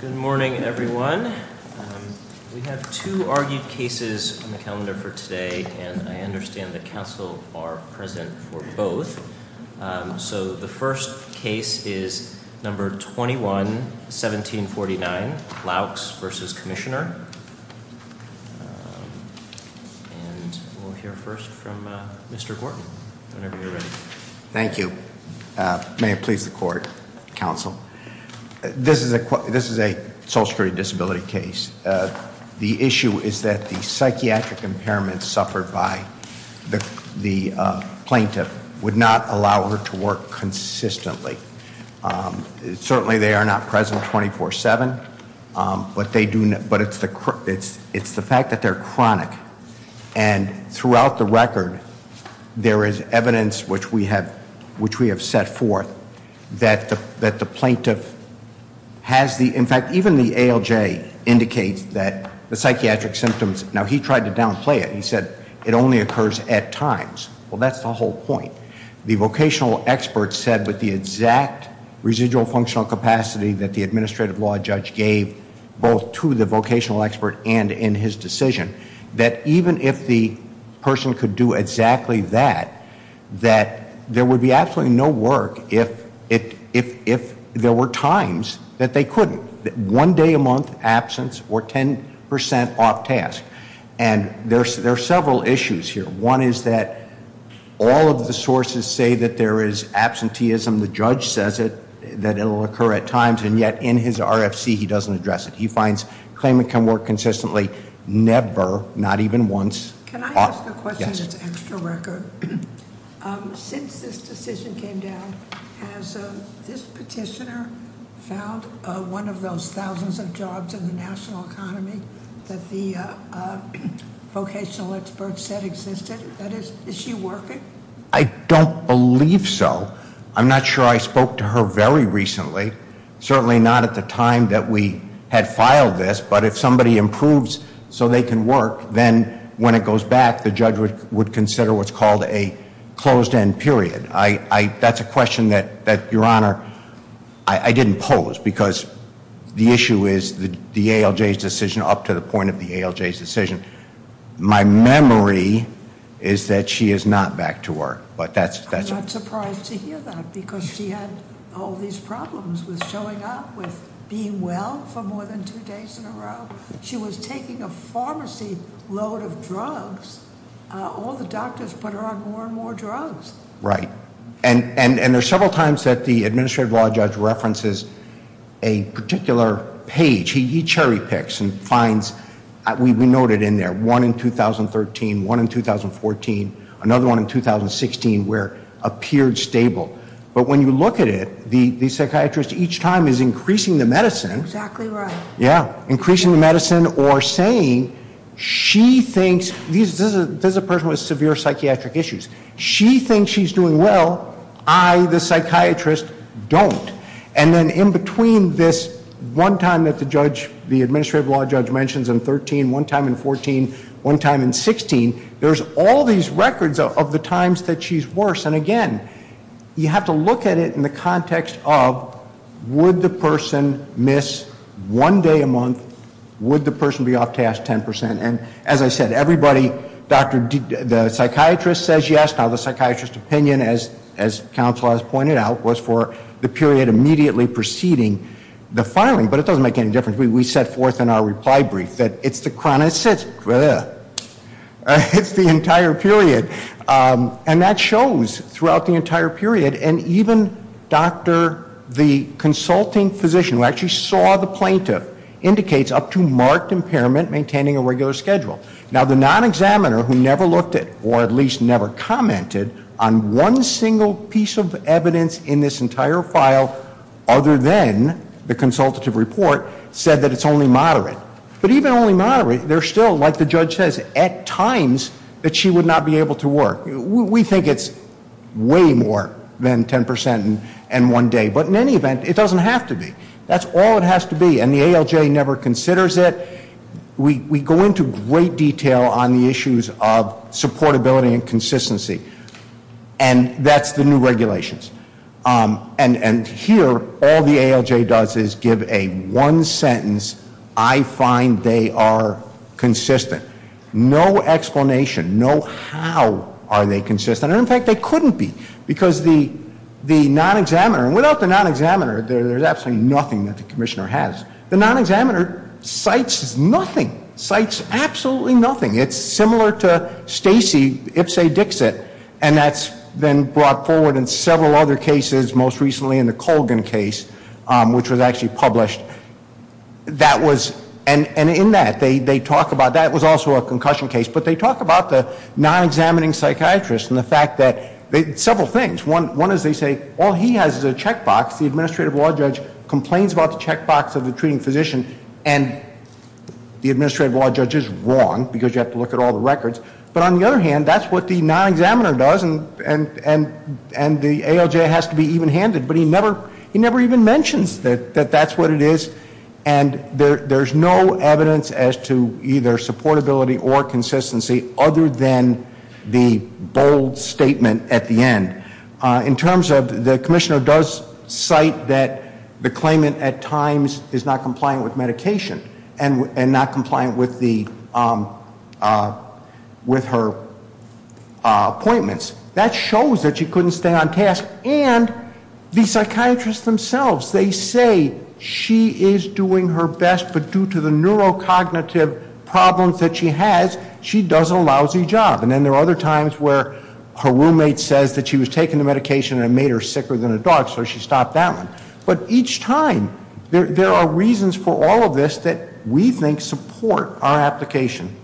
Good morning everyone. We have two argued cases on the calendar for today and I understand that counsel are present for both. So the first case is number 21-1749, Loucks v. Commissioner. And we'll hear first from Mr. Gordon whenever you're ready. Thank you. May it please the court, counsel. This is a social security disability case. The issue is that the psychiatric impairment suffered by the plaintiff would not allow her to work consistently. Certainly they are not present 24-7, but it's the fact that they're chronic. And throughout the record, there is evidence which we have set forth that the plaintiff has the, in fact, even the ALJ indicates that the psychiatric symptoms, now he tried to downplay it. He said it only occurs at times. Well that's the whole point. The vocational expert said with the exact residual functional capacity that the administrative law judge gave both to the vocational expert and in his decision, that even if the person could do exactly that, that there would be absolutely no work if there were times that they couldn't. One day a month absence or 10% off task. And there are several issues here. One is that all of the sources say that there is absenteeism. The judge says it, that it will occur at times, and yet in his RFC he doesn't address it. He finds claimant can work consistently never, not even once. Can I ask a question that's extra record? Since this decision came down, has this petitioner found one of those thousands of jobs in the national economy that the vocational expert said existed? That is, is she working? I don't believe so. I'm not sure I spoke to her very recently. Certainly not at the time that we had filed this. But if somebody improves so they can work, then when it goes back, the judge would consider what's called a closed end period. That's a question that, your honor, I didn't pose. Because the issue is the ALJ's decision up to the point of the ALJ's decision. My memory is that she is not back to work, but that's- I would love to hear that because she had all these problems with showing up, with being well for more than two days in a row. She was taking a pharmacy load of drugs. All the doctors put her on more and more drugs. Right. And there's several times that the administrative law judge references a particular page. He cherry picks and finds, we note it in there, one in 2013, one in 2014, another one in 2016 where it appeared stable. But when you look at it, the psychiatrist each time is increasing the medicine. Exactly right. Yeah. Increasing the medicine or saying she thinks- this is a person with severe psychiatric issues. She thinks she's doing well. I, the psychiatrist, don't. And then in between this one time that the judge, the administrative law judge mentions in 13, one time in 14, one time in 16, there's all these records of the times that she's worse. And, again, you have to look at it in the context of would the person miss one day a month? Would the person be off task 10%? And, as I said, everybody, the psychiatrist says yes. Now, the psychiatrist's opinion, as counsel has pointed out, was for the period immediately preceding the filing. But it doesn't make any difference. We set forth in our reply brief that it's the chronic-it's the entire period. And that shows throughout the entire period. And even the consulting physician, who actually saw the plaintiff, indicates up to marked impairment maintaining a regular schedule. Now, the non-examiner, who never looked at or at least never commented on one single piece of evidence in this entire file, other than the consultative report, said that it's only moderate. But even only moderate, they're still, like the judge says, at times that she would not be able to work. We think it's way more than 10% and one day. But, in any event, it doesn't have to be. That's all it has to be. And the ALJ never considers it. We go into great detail on the issues of supportability and consistency. And that's the new regulations. And here, all the ALJ does is give a one sentence, I find they are consistent. No explanation. No how are they consistent. And, in fact, they couldn't be. Because the non-examiner, and without the non-examiner, there's absolutely nothing that the commissioner has. The non-examiner cites nothing. Cites absolutely nothing. It's similar to Stacy Ipse Dixit. And that's been brought forward in several other cases, most recently in the Colgan case, which was actually published. That was, and in that, they talk about, that was also a concussion case. But they talk about the non-examining psychiatrist and the fact that, several things. One is they say, all he has is a checkbox. The administrative law judge complains about the checkbox of the treating physician. And the administrative law judge is wrong, because you have to look at all the records. But, on the other hand, that's what the non-examiner does, and the ALJ has to be even-handed. But he never even mentions that that's what it is. And there's no evidence as to either supportability or consistency, other than the bold statement at the end. In terms of the commissioner does cite that the claimant, at times, is not compliant with medication and not compliant with her appointments. That shows that she couldn't stay on task. And the psychiatrists themselves, they say she is doing her best, but due to the neurocognitive problems that she has, she does a lousy job. And then there are other times where her roommate says that she was taking the medication and it made her sicker than a dog, so she stopped that one. But each time, there are reasons for all of this that we think support our application.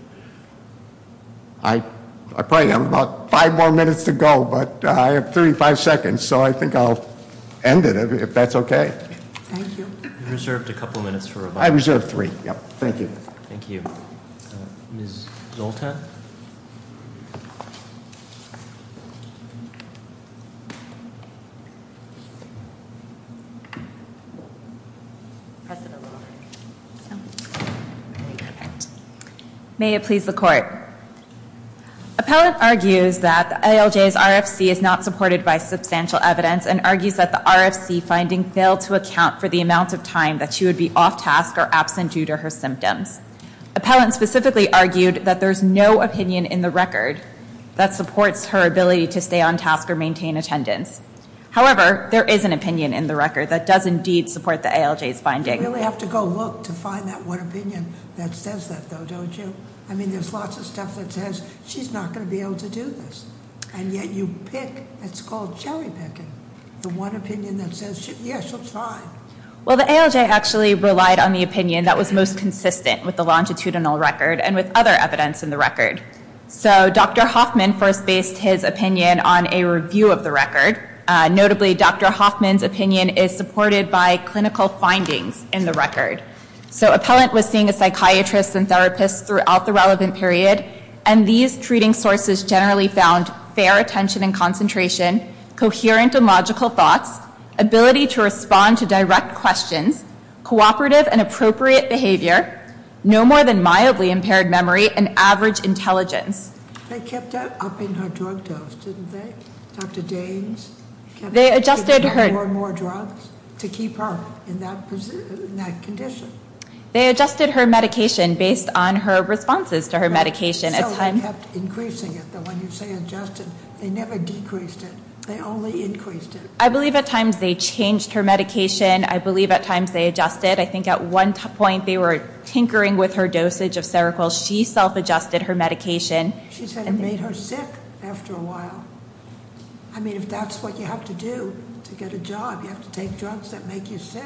I probably have about five more minutes to go, but I have 35 seconds, so I think I'll end it, if that's okay. Thank you. You reserved a couple minutes for rebuttal. I reserved three. Thank you. Thank you. Ms. Zoltan. May it please the Court. Appellant argues that the ALJ's RFC is not supported by substantial evidence and argues that the RFC finding failed to account for the amount of time that she would be off task or absent due to her symptoms. Appellant specifically argued that there's no opinion in the record that supports her ability to stay on task or maintain attendance. However, there is an opinion in the record that does indeed support the ALJ's finding. You really have to go look to find that one opinion that says that, though, don't you? I mean, there's lots of stuff that says she's not going to be able to do this, and yet you pick, it's called cherry picking, the one opinion that says, yes, she'll try. Well, the ALJ actually relied on the opinion that was most consistent with the longitudinal record and with other evidence in the record. So Dr. Hoffman first based his opinion on a review of the record. Notably, Dr. Hoffman's opinion is supported by clinical findings in the record. So appellant was seeing a psychiatrist and therapist throughout the relevant period, and these treating sources generally found fair attention and concentration, coherent and logical thoughts, ability to respond to direct questions, cooperative and appropriate behavior, no more than mildly impaired memory, and average intelligence. They kept upping her drug dose, didn't they, Dr. Danes? They adjusted her. Could they have more and more drugs to keep her in that condition? They adjusted her medication based on her responses to her medication. So they kept increasing it, though when you say adjusted, they never decreased it. They only increased it. I believe at times they changed her medication. I believe at times they adjusted. I think at one point they were tinkering with her dosage of Seroquel. She self-adjusted her medication. She said it made her sick after a while. I mean, if that's what you have to do to get a job, you have to take drugs that make you sick.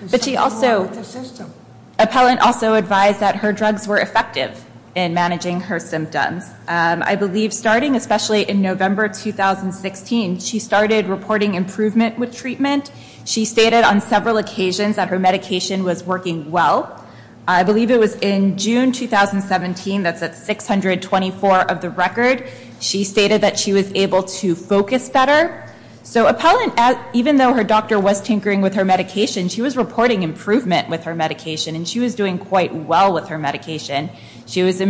There's something wrong with the system. Appellant also advised that her drugs were effective in managing her symptoms. I believe starting especially in November 2016, she started reporting improvement with treatment. She stated on several occasions that her medication was working well. I believe it was in June 2017, that's at 624 of the record, she stated that she was able to focus better. So Appellant, even though her doctor was tinkering with her medication, she was reporting improvement with her medication, and she was doing quite well with her medication. She was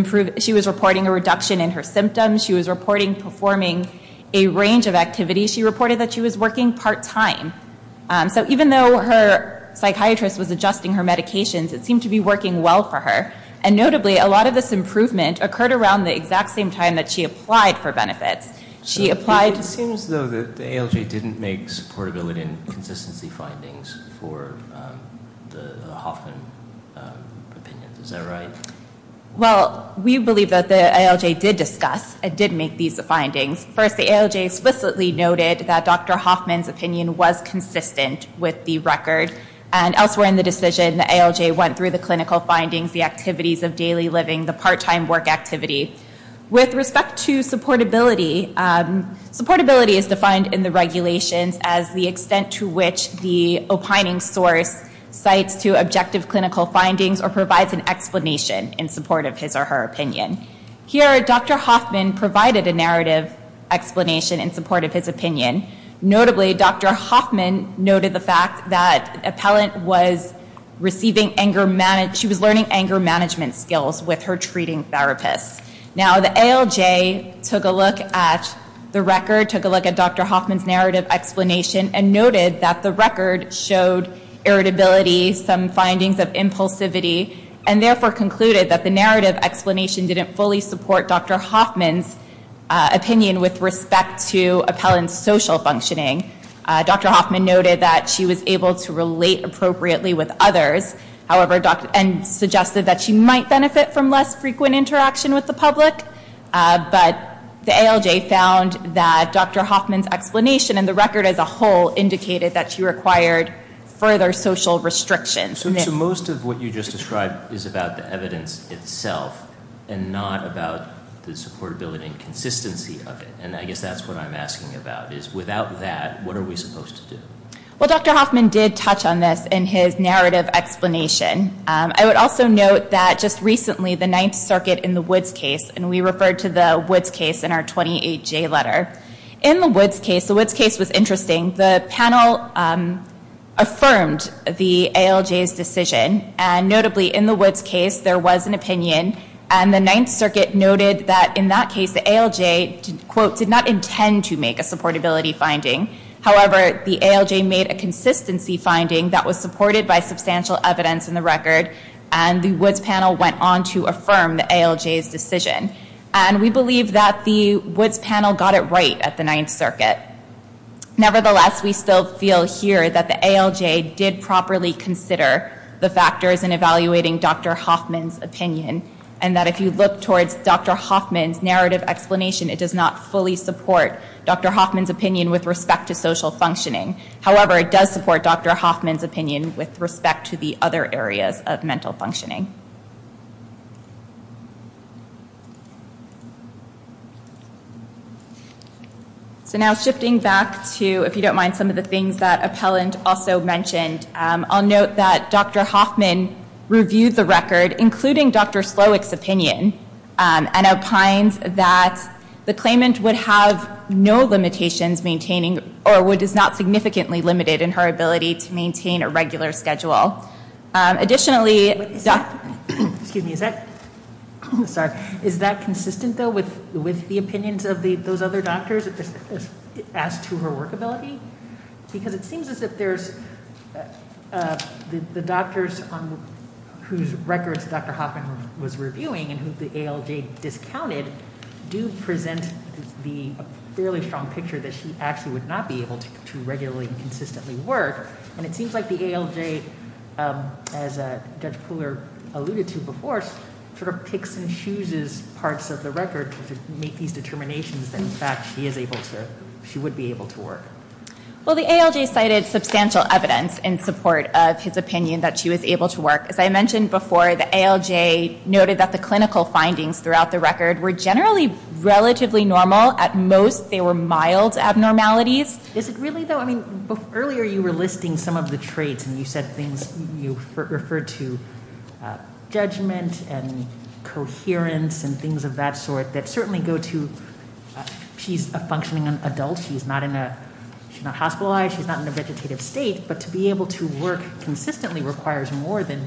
reporting a reduction in her symptoms. She was reporting performing a range of activities. She reported that she was working part-time. So even though her psychiatrist was adjusting her medications, it seemed to be working well for her. And notably, a lot of this improvement occurred around the exact same time that she applied for benefits. It seems, though, that the ALJ didn't make supportability and consistency findings for the Hoffman opinion. Is that right? Well, we believe that the ALJ did discuss and did make these findings. First, the ALJ explicitly noted that Dr. Hoffman's opinion was consistent with the record. And elsewhere in the decision, the ALJ went through the clinical findings, the activities of daily living, the part-time work activity. With respect to supportability, supportability is defined in the regulations as the extent to which the opining source cites to objective clinical findings or provides an explanation in support of his or her opinion. Here, Dr. Hoffman provided a narrative explanation in support of his opinion. Notably, Dr. Hoffman noted the fact that Appellant was learning anger management skills with her treating therapist. Now, the ALJ took a look at the record, took a look at Dr. Hoffman's narrative explanation, and noted that the record showed irritability, some findings of impulsivity, and therefore concluded that the narrative explanation didn't fully support Dr. Hoffman's opinion with respect to Appellant's social functioning. Dr. Hoffman noted that she was able to relate appropriately with others and suggested that she might benefit from less frequent interaction with the public. But the ALJ found that Dr. Hoffman's explanation and the record as a whole indicated that she required further social restrictions. So most of what you just described is about the evidence itself and not about the supportability and consistency of it. And I guess that's what I'm asking about, is without that, what are we supposed to do? Well, Dr. Hoffman did touch on this in his narrative explanation. I would also note that just recently, the Ninth Circuit in the Woods case, and we referred to the Woods case in our 28-J letter. In the Woods case, the Woods case was interesting. The panel affirmed the ALJ's decision, and notably in the Woods case, there was an opinion, and the Ninth Circuit noted that in that case, the ALJ, quote, did not intend to make a supportability finding. However, the ALJ made a consistency finding that was supported by substantial evidence in the record, and the Woods panel went on to affirm the ALJ's decision. And we believe that the Woods panel got it right at the Ninth Circuit. Nevertheless, we still feel here that the ALJ did properly consider the factors in evaluating Dr. Hoffman's opinion, and that if you look towards Dr. Hoffman's narrative explanation, it does not fully support Dr. Hoffman's opinion with respect to social functioning. However, it does support Dr. Hoffman's opinion with respect to the other areas of mental functioning. So now shifting back to, if you don't mind, some of the things that Appellant also mentioned, I'll note that Dr. Hoffman reviewed the record, including Dr. Slowick's opinion, and opines that the claimant would have no limitations maintaining, or would not significantly limit it in her ability to maintain a regular schedule. Additionally, is that consistent, though, with the opinions of those other doctors as to her workability? Because it seems as if the doctors whose records Dr. Hoffman was reviewing and who the ALJ discounted do present a fairly strong picture that she actually would not be able to regularly and consistently work. And it seems like the ALJ, as Judge Pooler alluded to before, sort of picks and chooses parts of the record to make these determinations that, in fact, she would be able to work. Well, the ALJ cited substantial evidence in support of his opinion that she was able to work. As I mentioned before, the ALJ noted that the clinical findings throughout the record were generally relatively normal. At most, they were mild abnormalities. Is it really, though? I mean, earlier you were listing some of the traits, and you said things you referred to, judgment and coherence and things of that sort that certainly go to she's a functioning adult. She's not hospitalized. She's not in a vegetative state. But to be able to work consistently requires more than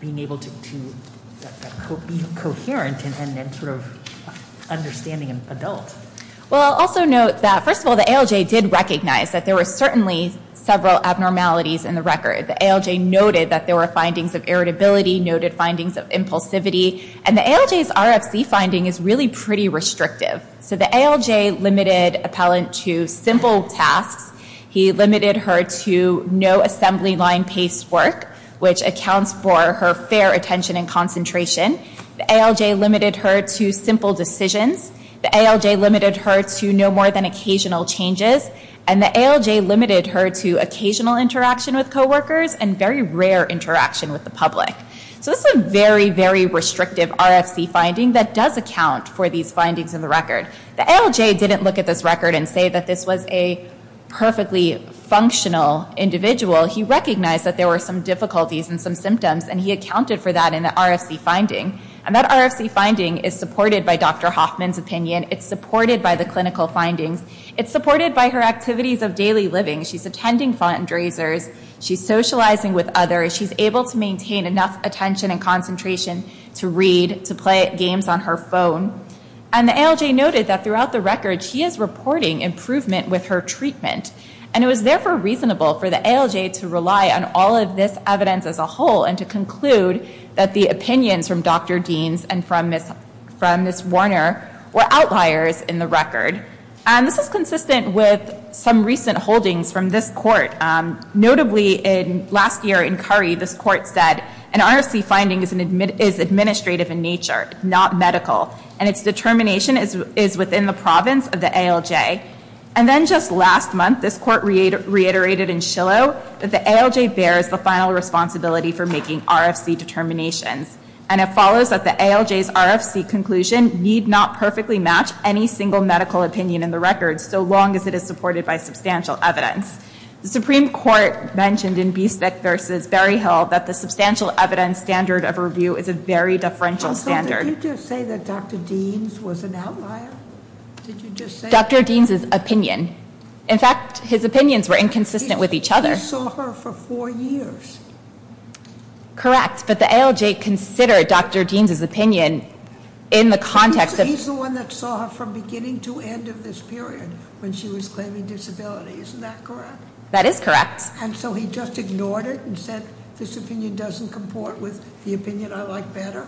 being able to be coherent and sort of understanding an adult. Well, I'll also note that, first of all, the ALJ did recognize that there were certainly several abnormalities in the record. The ALJ noted that there were findings of irritability, noted findings of impulsivity, and the ALJ's RFC finding is really pretty restrictive. So the ALJ limited Appellant to simple tasks. He limited her to no assembly line paced work, which accounts for her fair attention and concentration. The ALJ limited her to simple decisions. The ALJ limited her to no more than occasional changes. And the ALJ limited her to occasional interaction with coworkers and very rare interaction with the public. So this is a very, very restrictive RFC finding that does account for these findings in the record. The ALJ didn't look at this record and say that this was a perfectly functional individual. He recognized that there were some difficulties and some symptoms, and he accounted for that in the RFC finding. And that RFC finding is supported by Dr. Hoffman's opinion. It's supported by the clinical findings. It's supported by her activities of daily living. She's attending fundraisers. She's socializing with others. She's able to maintain enough attention and concentration to read, to play games on her phone. And the ALJ noted that throughout the record, she is reporting improvement with her treatment, and it was therefore reasonable for the ALJ to rely on all of this evidence as a whole and to conclude that the opinions from Dr. Deans and from Ms. Warner were outliers in the record. This is consistent with some recent holdings from this court. Notably, last year in Curry, this court said an RFC finding is administrative in nature, not medical, and its determination is within the province of the ALJ. And then just last month, this court reiterated in Shillow that the ALJ bears the final responsibility for making RFC determinations, and it follows that the ALJ's RFC conclusion need not perfectly match any single medical opinion in the record, so long as it is supported by substantial evidence. The Supreme Court mentioned in Bistek v. Berryhill that the substantial evidence standard of review is a very differential standard. Also, did you just say that Dr. Deans was an outlier? Did you just say that? Dr. Deans' opinion. In fact, his opinions were inconsistent with each other. He saw her for four years. Correct, but the ALJ considered Dr. Deans' opinion in the context of... He's the one that saw her from beginning to end of this period when she was claiming disability. Isn't that correct? That is correct. And so he just ignored it and said, this opinion doesn't comport with the opinion I like better?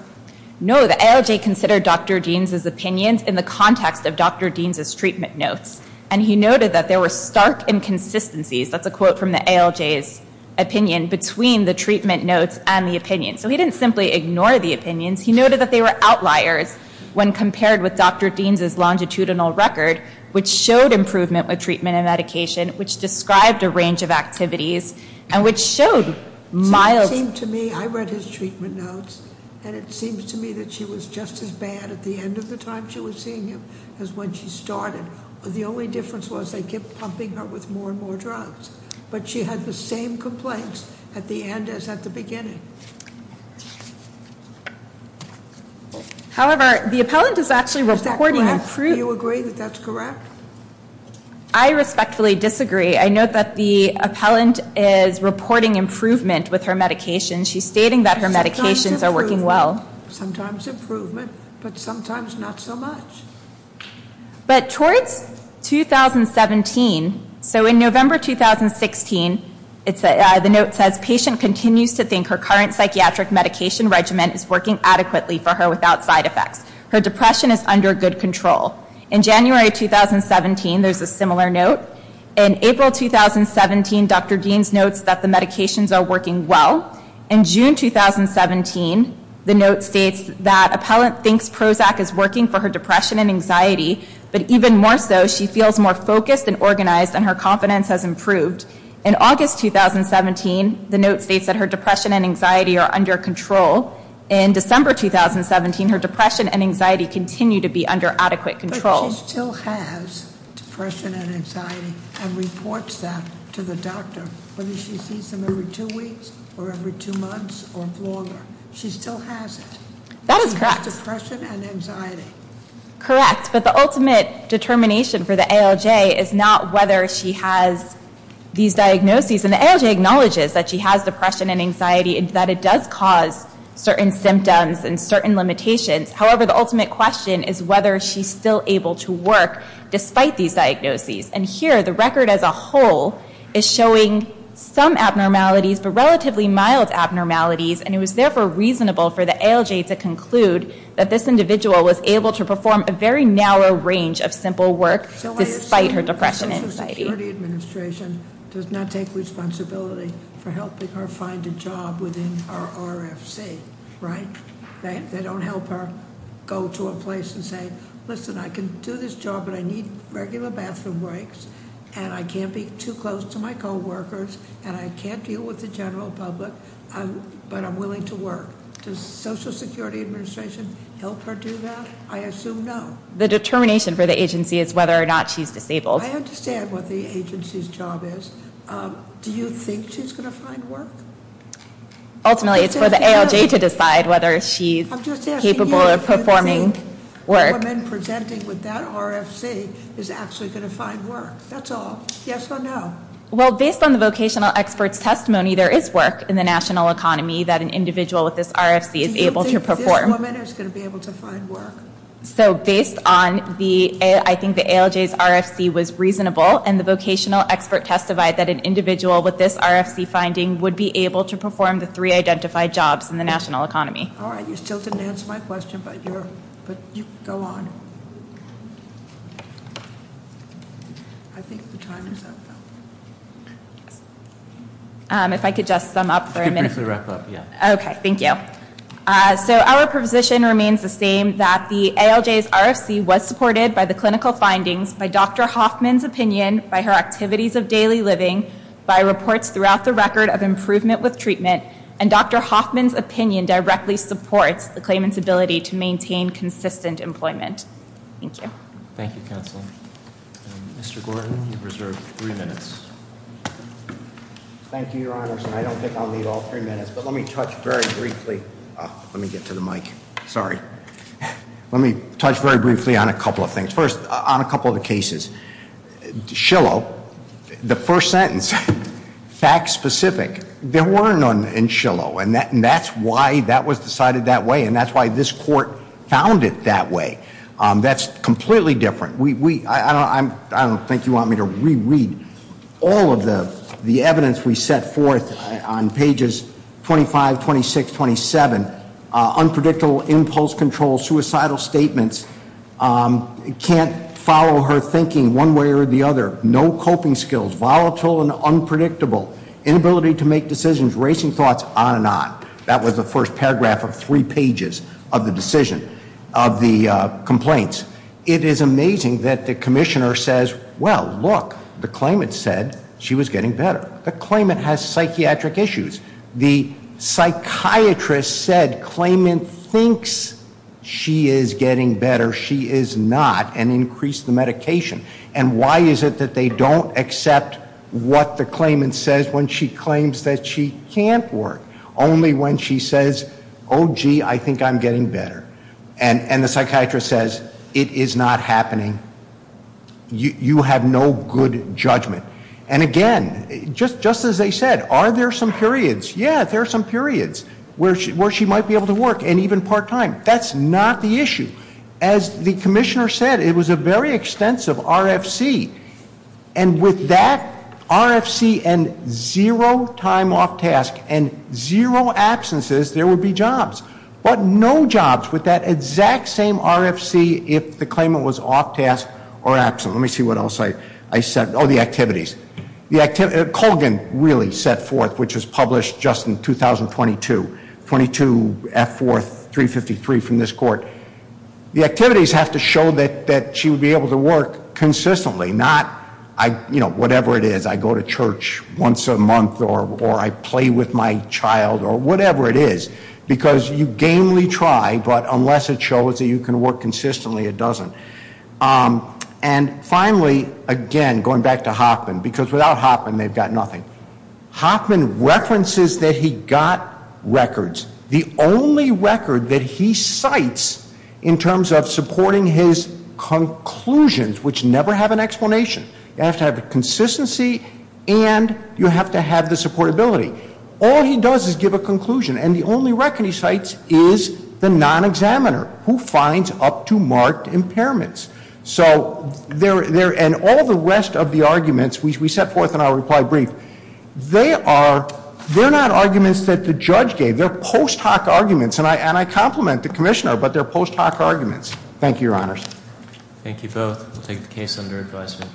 No, the ALJ considered Dr. Deans' opinions in the context of Dr. Deans' treatment notes, and he noted that there were stark inconsistencies, that's a quote from the ALJ's opinion, between the treatment notes and the opinion. So he didn't simply ignore the opinions. He noted that they were outliers when compared with Dr. Deans' longitudinal record, which showed improvement with treatment and medication, which described a range of activities, and which showed mild... It seems to me that she was just as bad at the end of the time she was seeing him as when she started. The only difference was they kept pumping her with more and more drugs. But she had the same complaints at the end as at the beginning. However, the appellant is actually reporting... Is that correct? Do you agree that that's correct? I respectfully disagree. I note that the appellant is reporting improvement with her medication. She's stating that her medications are working well. Sometimes improvement, but sometimes not so much. But towards 2017, so in November 2016, the note says, patient continues to think her current psychiatric medication regimen is working adequately for her without side effects. Her depression is under good control. In January 2017, there's a similar note. In April 2017, Dr. Deans notes that the medications are working well. In June 2017, the note states that appellant thinks Prozac is working for her depression and anxiety, but even more so, she feels more focused and organized and her confidence has improved. In August 2017, the note states that her depression and anxiety are under control. In December 2017, her depression and anxiety continue to be under adequate control. She still has depression and anxiety and reports that to the doctor. Whether she sees him every two weeks or every two months or longer, she still has it. That is correct. Depression and anxiety. Correct, but the ultimate determination for the ALJ is not whether she has these diagnoses. And the ALJ acknowledges that she has depression and anxiety and that it does cause certain symptoms and certain limitations. However, the ultimate question is whether she's still able to work despite these diagnoses. And here, the record as a whole is showing some abnormalities, but relatively mild abnormalities. And it was therefore reasonable for the ALJ to conclude that this individual was able to perform a very narrow range of simple work despite her depression and anxiety. The Social Security Administration does not take responsibility for helping her find a job within our RFC, right? They don't help her go to a place and say, listen, I can do this job, but I need regular bathroom breaks. And I can't be too close to my co-workers, and I can't deal with the general public, but I'm willing to work. Does Social Security Administration help her do that? I assume no. The determination for the agency is whether or not she's disabled. I understand what the agency's job is. Do you think she's going to find work? Ultimately, it's for the ALJ to decide whether she's capable of performing work. I'm just asking, do you think the woman presenting with that RFC is actually going to find work? That's all. Yes or no? Well, based on the vocational expert's testimony, there is work in the national economy that an individual with this RFC is able to perform. Do you think this woman is going to be able to find work? So based on the, I think the ALJ's RFC was reasonable, and the vocational expert testified that an individual with this RFC finding would be able to perform the three identified jobs in the national economy. All right. You still didn't answer my question, but you can go on. I think the time is up, though. If I could just sum up for a minute. You can briefly wrap up, yeah. Okay. Thank you. So our position remains the same, that the ALJ's RFC was supported by the clinical findings, by Dr. Hoffman's opinion, by her activities of daily living, by reports throughout the record of improvement with treatment, and Dr. Hoffman's opinion directly supports the claimant's ability to maintain consistent employment. Thank you. Thank you, Counsel. Mr. Gordon, you have reserved three minutes. Thank you, Your Honors, and I don't think I'll need all three minutes, but let me touch very briefly. Let me get to the mic. Sorry. Let me touch very briefly on a couple of things. First, on a couple of the cases. Shillow, the first sentence, fact specific, there were none in Shillow, and that's why that was decided that way, and that's why this court found it that way. That's completely different. I don't think you want me to reread all of the evidence we set forth on pages 25, 26, 27. Unpredictable impulse control, suicidal statements, can't follow her thinking one way or the other, no coping skills, volatile and unpredictable, inability to make decisions, racing thoughts, on and on. That was the first paragraph of three pages of the decision, of the complaints. It is amazing that the commissioner says, well, look, the claimant said she was getting better. The claimant has psychiatric issues. The psychiatrist said claimant thinks she is getting better. She is not, and increased the medication. And why is it that they don't accept what the claimant says when she claims that she can't work? Only when she says, oh, gee, I think I'm getting better. And the psychiatrist says, it is not happening. You have no good judgment. And again, just as they said, are there some periods? Yeah, there are some periods where she might be able to work, and even part time. That's not the issue. As the commissioner said, it was a very extensive RFC. And with that RFC and zero time off task and zero absences, there would be jobs. But no jobs with that exact same RFC if the claimant was off task or absent. Let me see what else I said. Oh, the activities. Colgan really set forth, which was published just in 2022, 22F4353 from this court. The activities have to show that she would be able to work consistently, not, you know, whatever it is. I go to church once a month, or I play with my child, or whatever it is. Because you gamely try, but unless it shows that you can work consistently, it doesn't. And finally, again, going back to Hoffman, because without Hoffman, they've got nothing. Hoffman references that he got records. The only record that he cites in terms of supporting his conclusions, which never have an explanation. You have to have consistency, and you have to have the supportability. All he does is give a conclusion, and the only record he cites is the non-examiner, who finds up to marked impairments. So, and all the rest of the arguments, which we set forth in our reply brief, they're not arguments that the judge gave, they're post hoc arguments. And I compliment the commissioner, but they're post hoc arguments. Thank you, your honors. Thank you both. We'll take the case under advisement.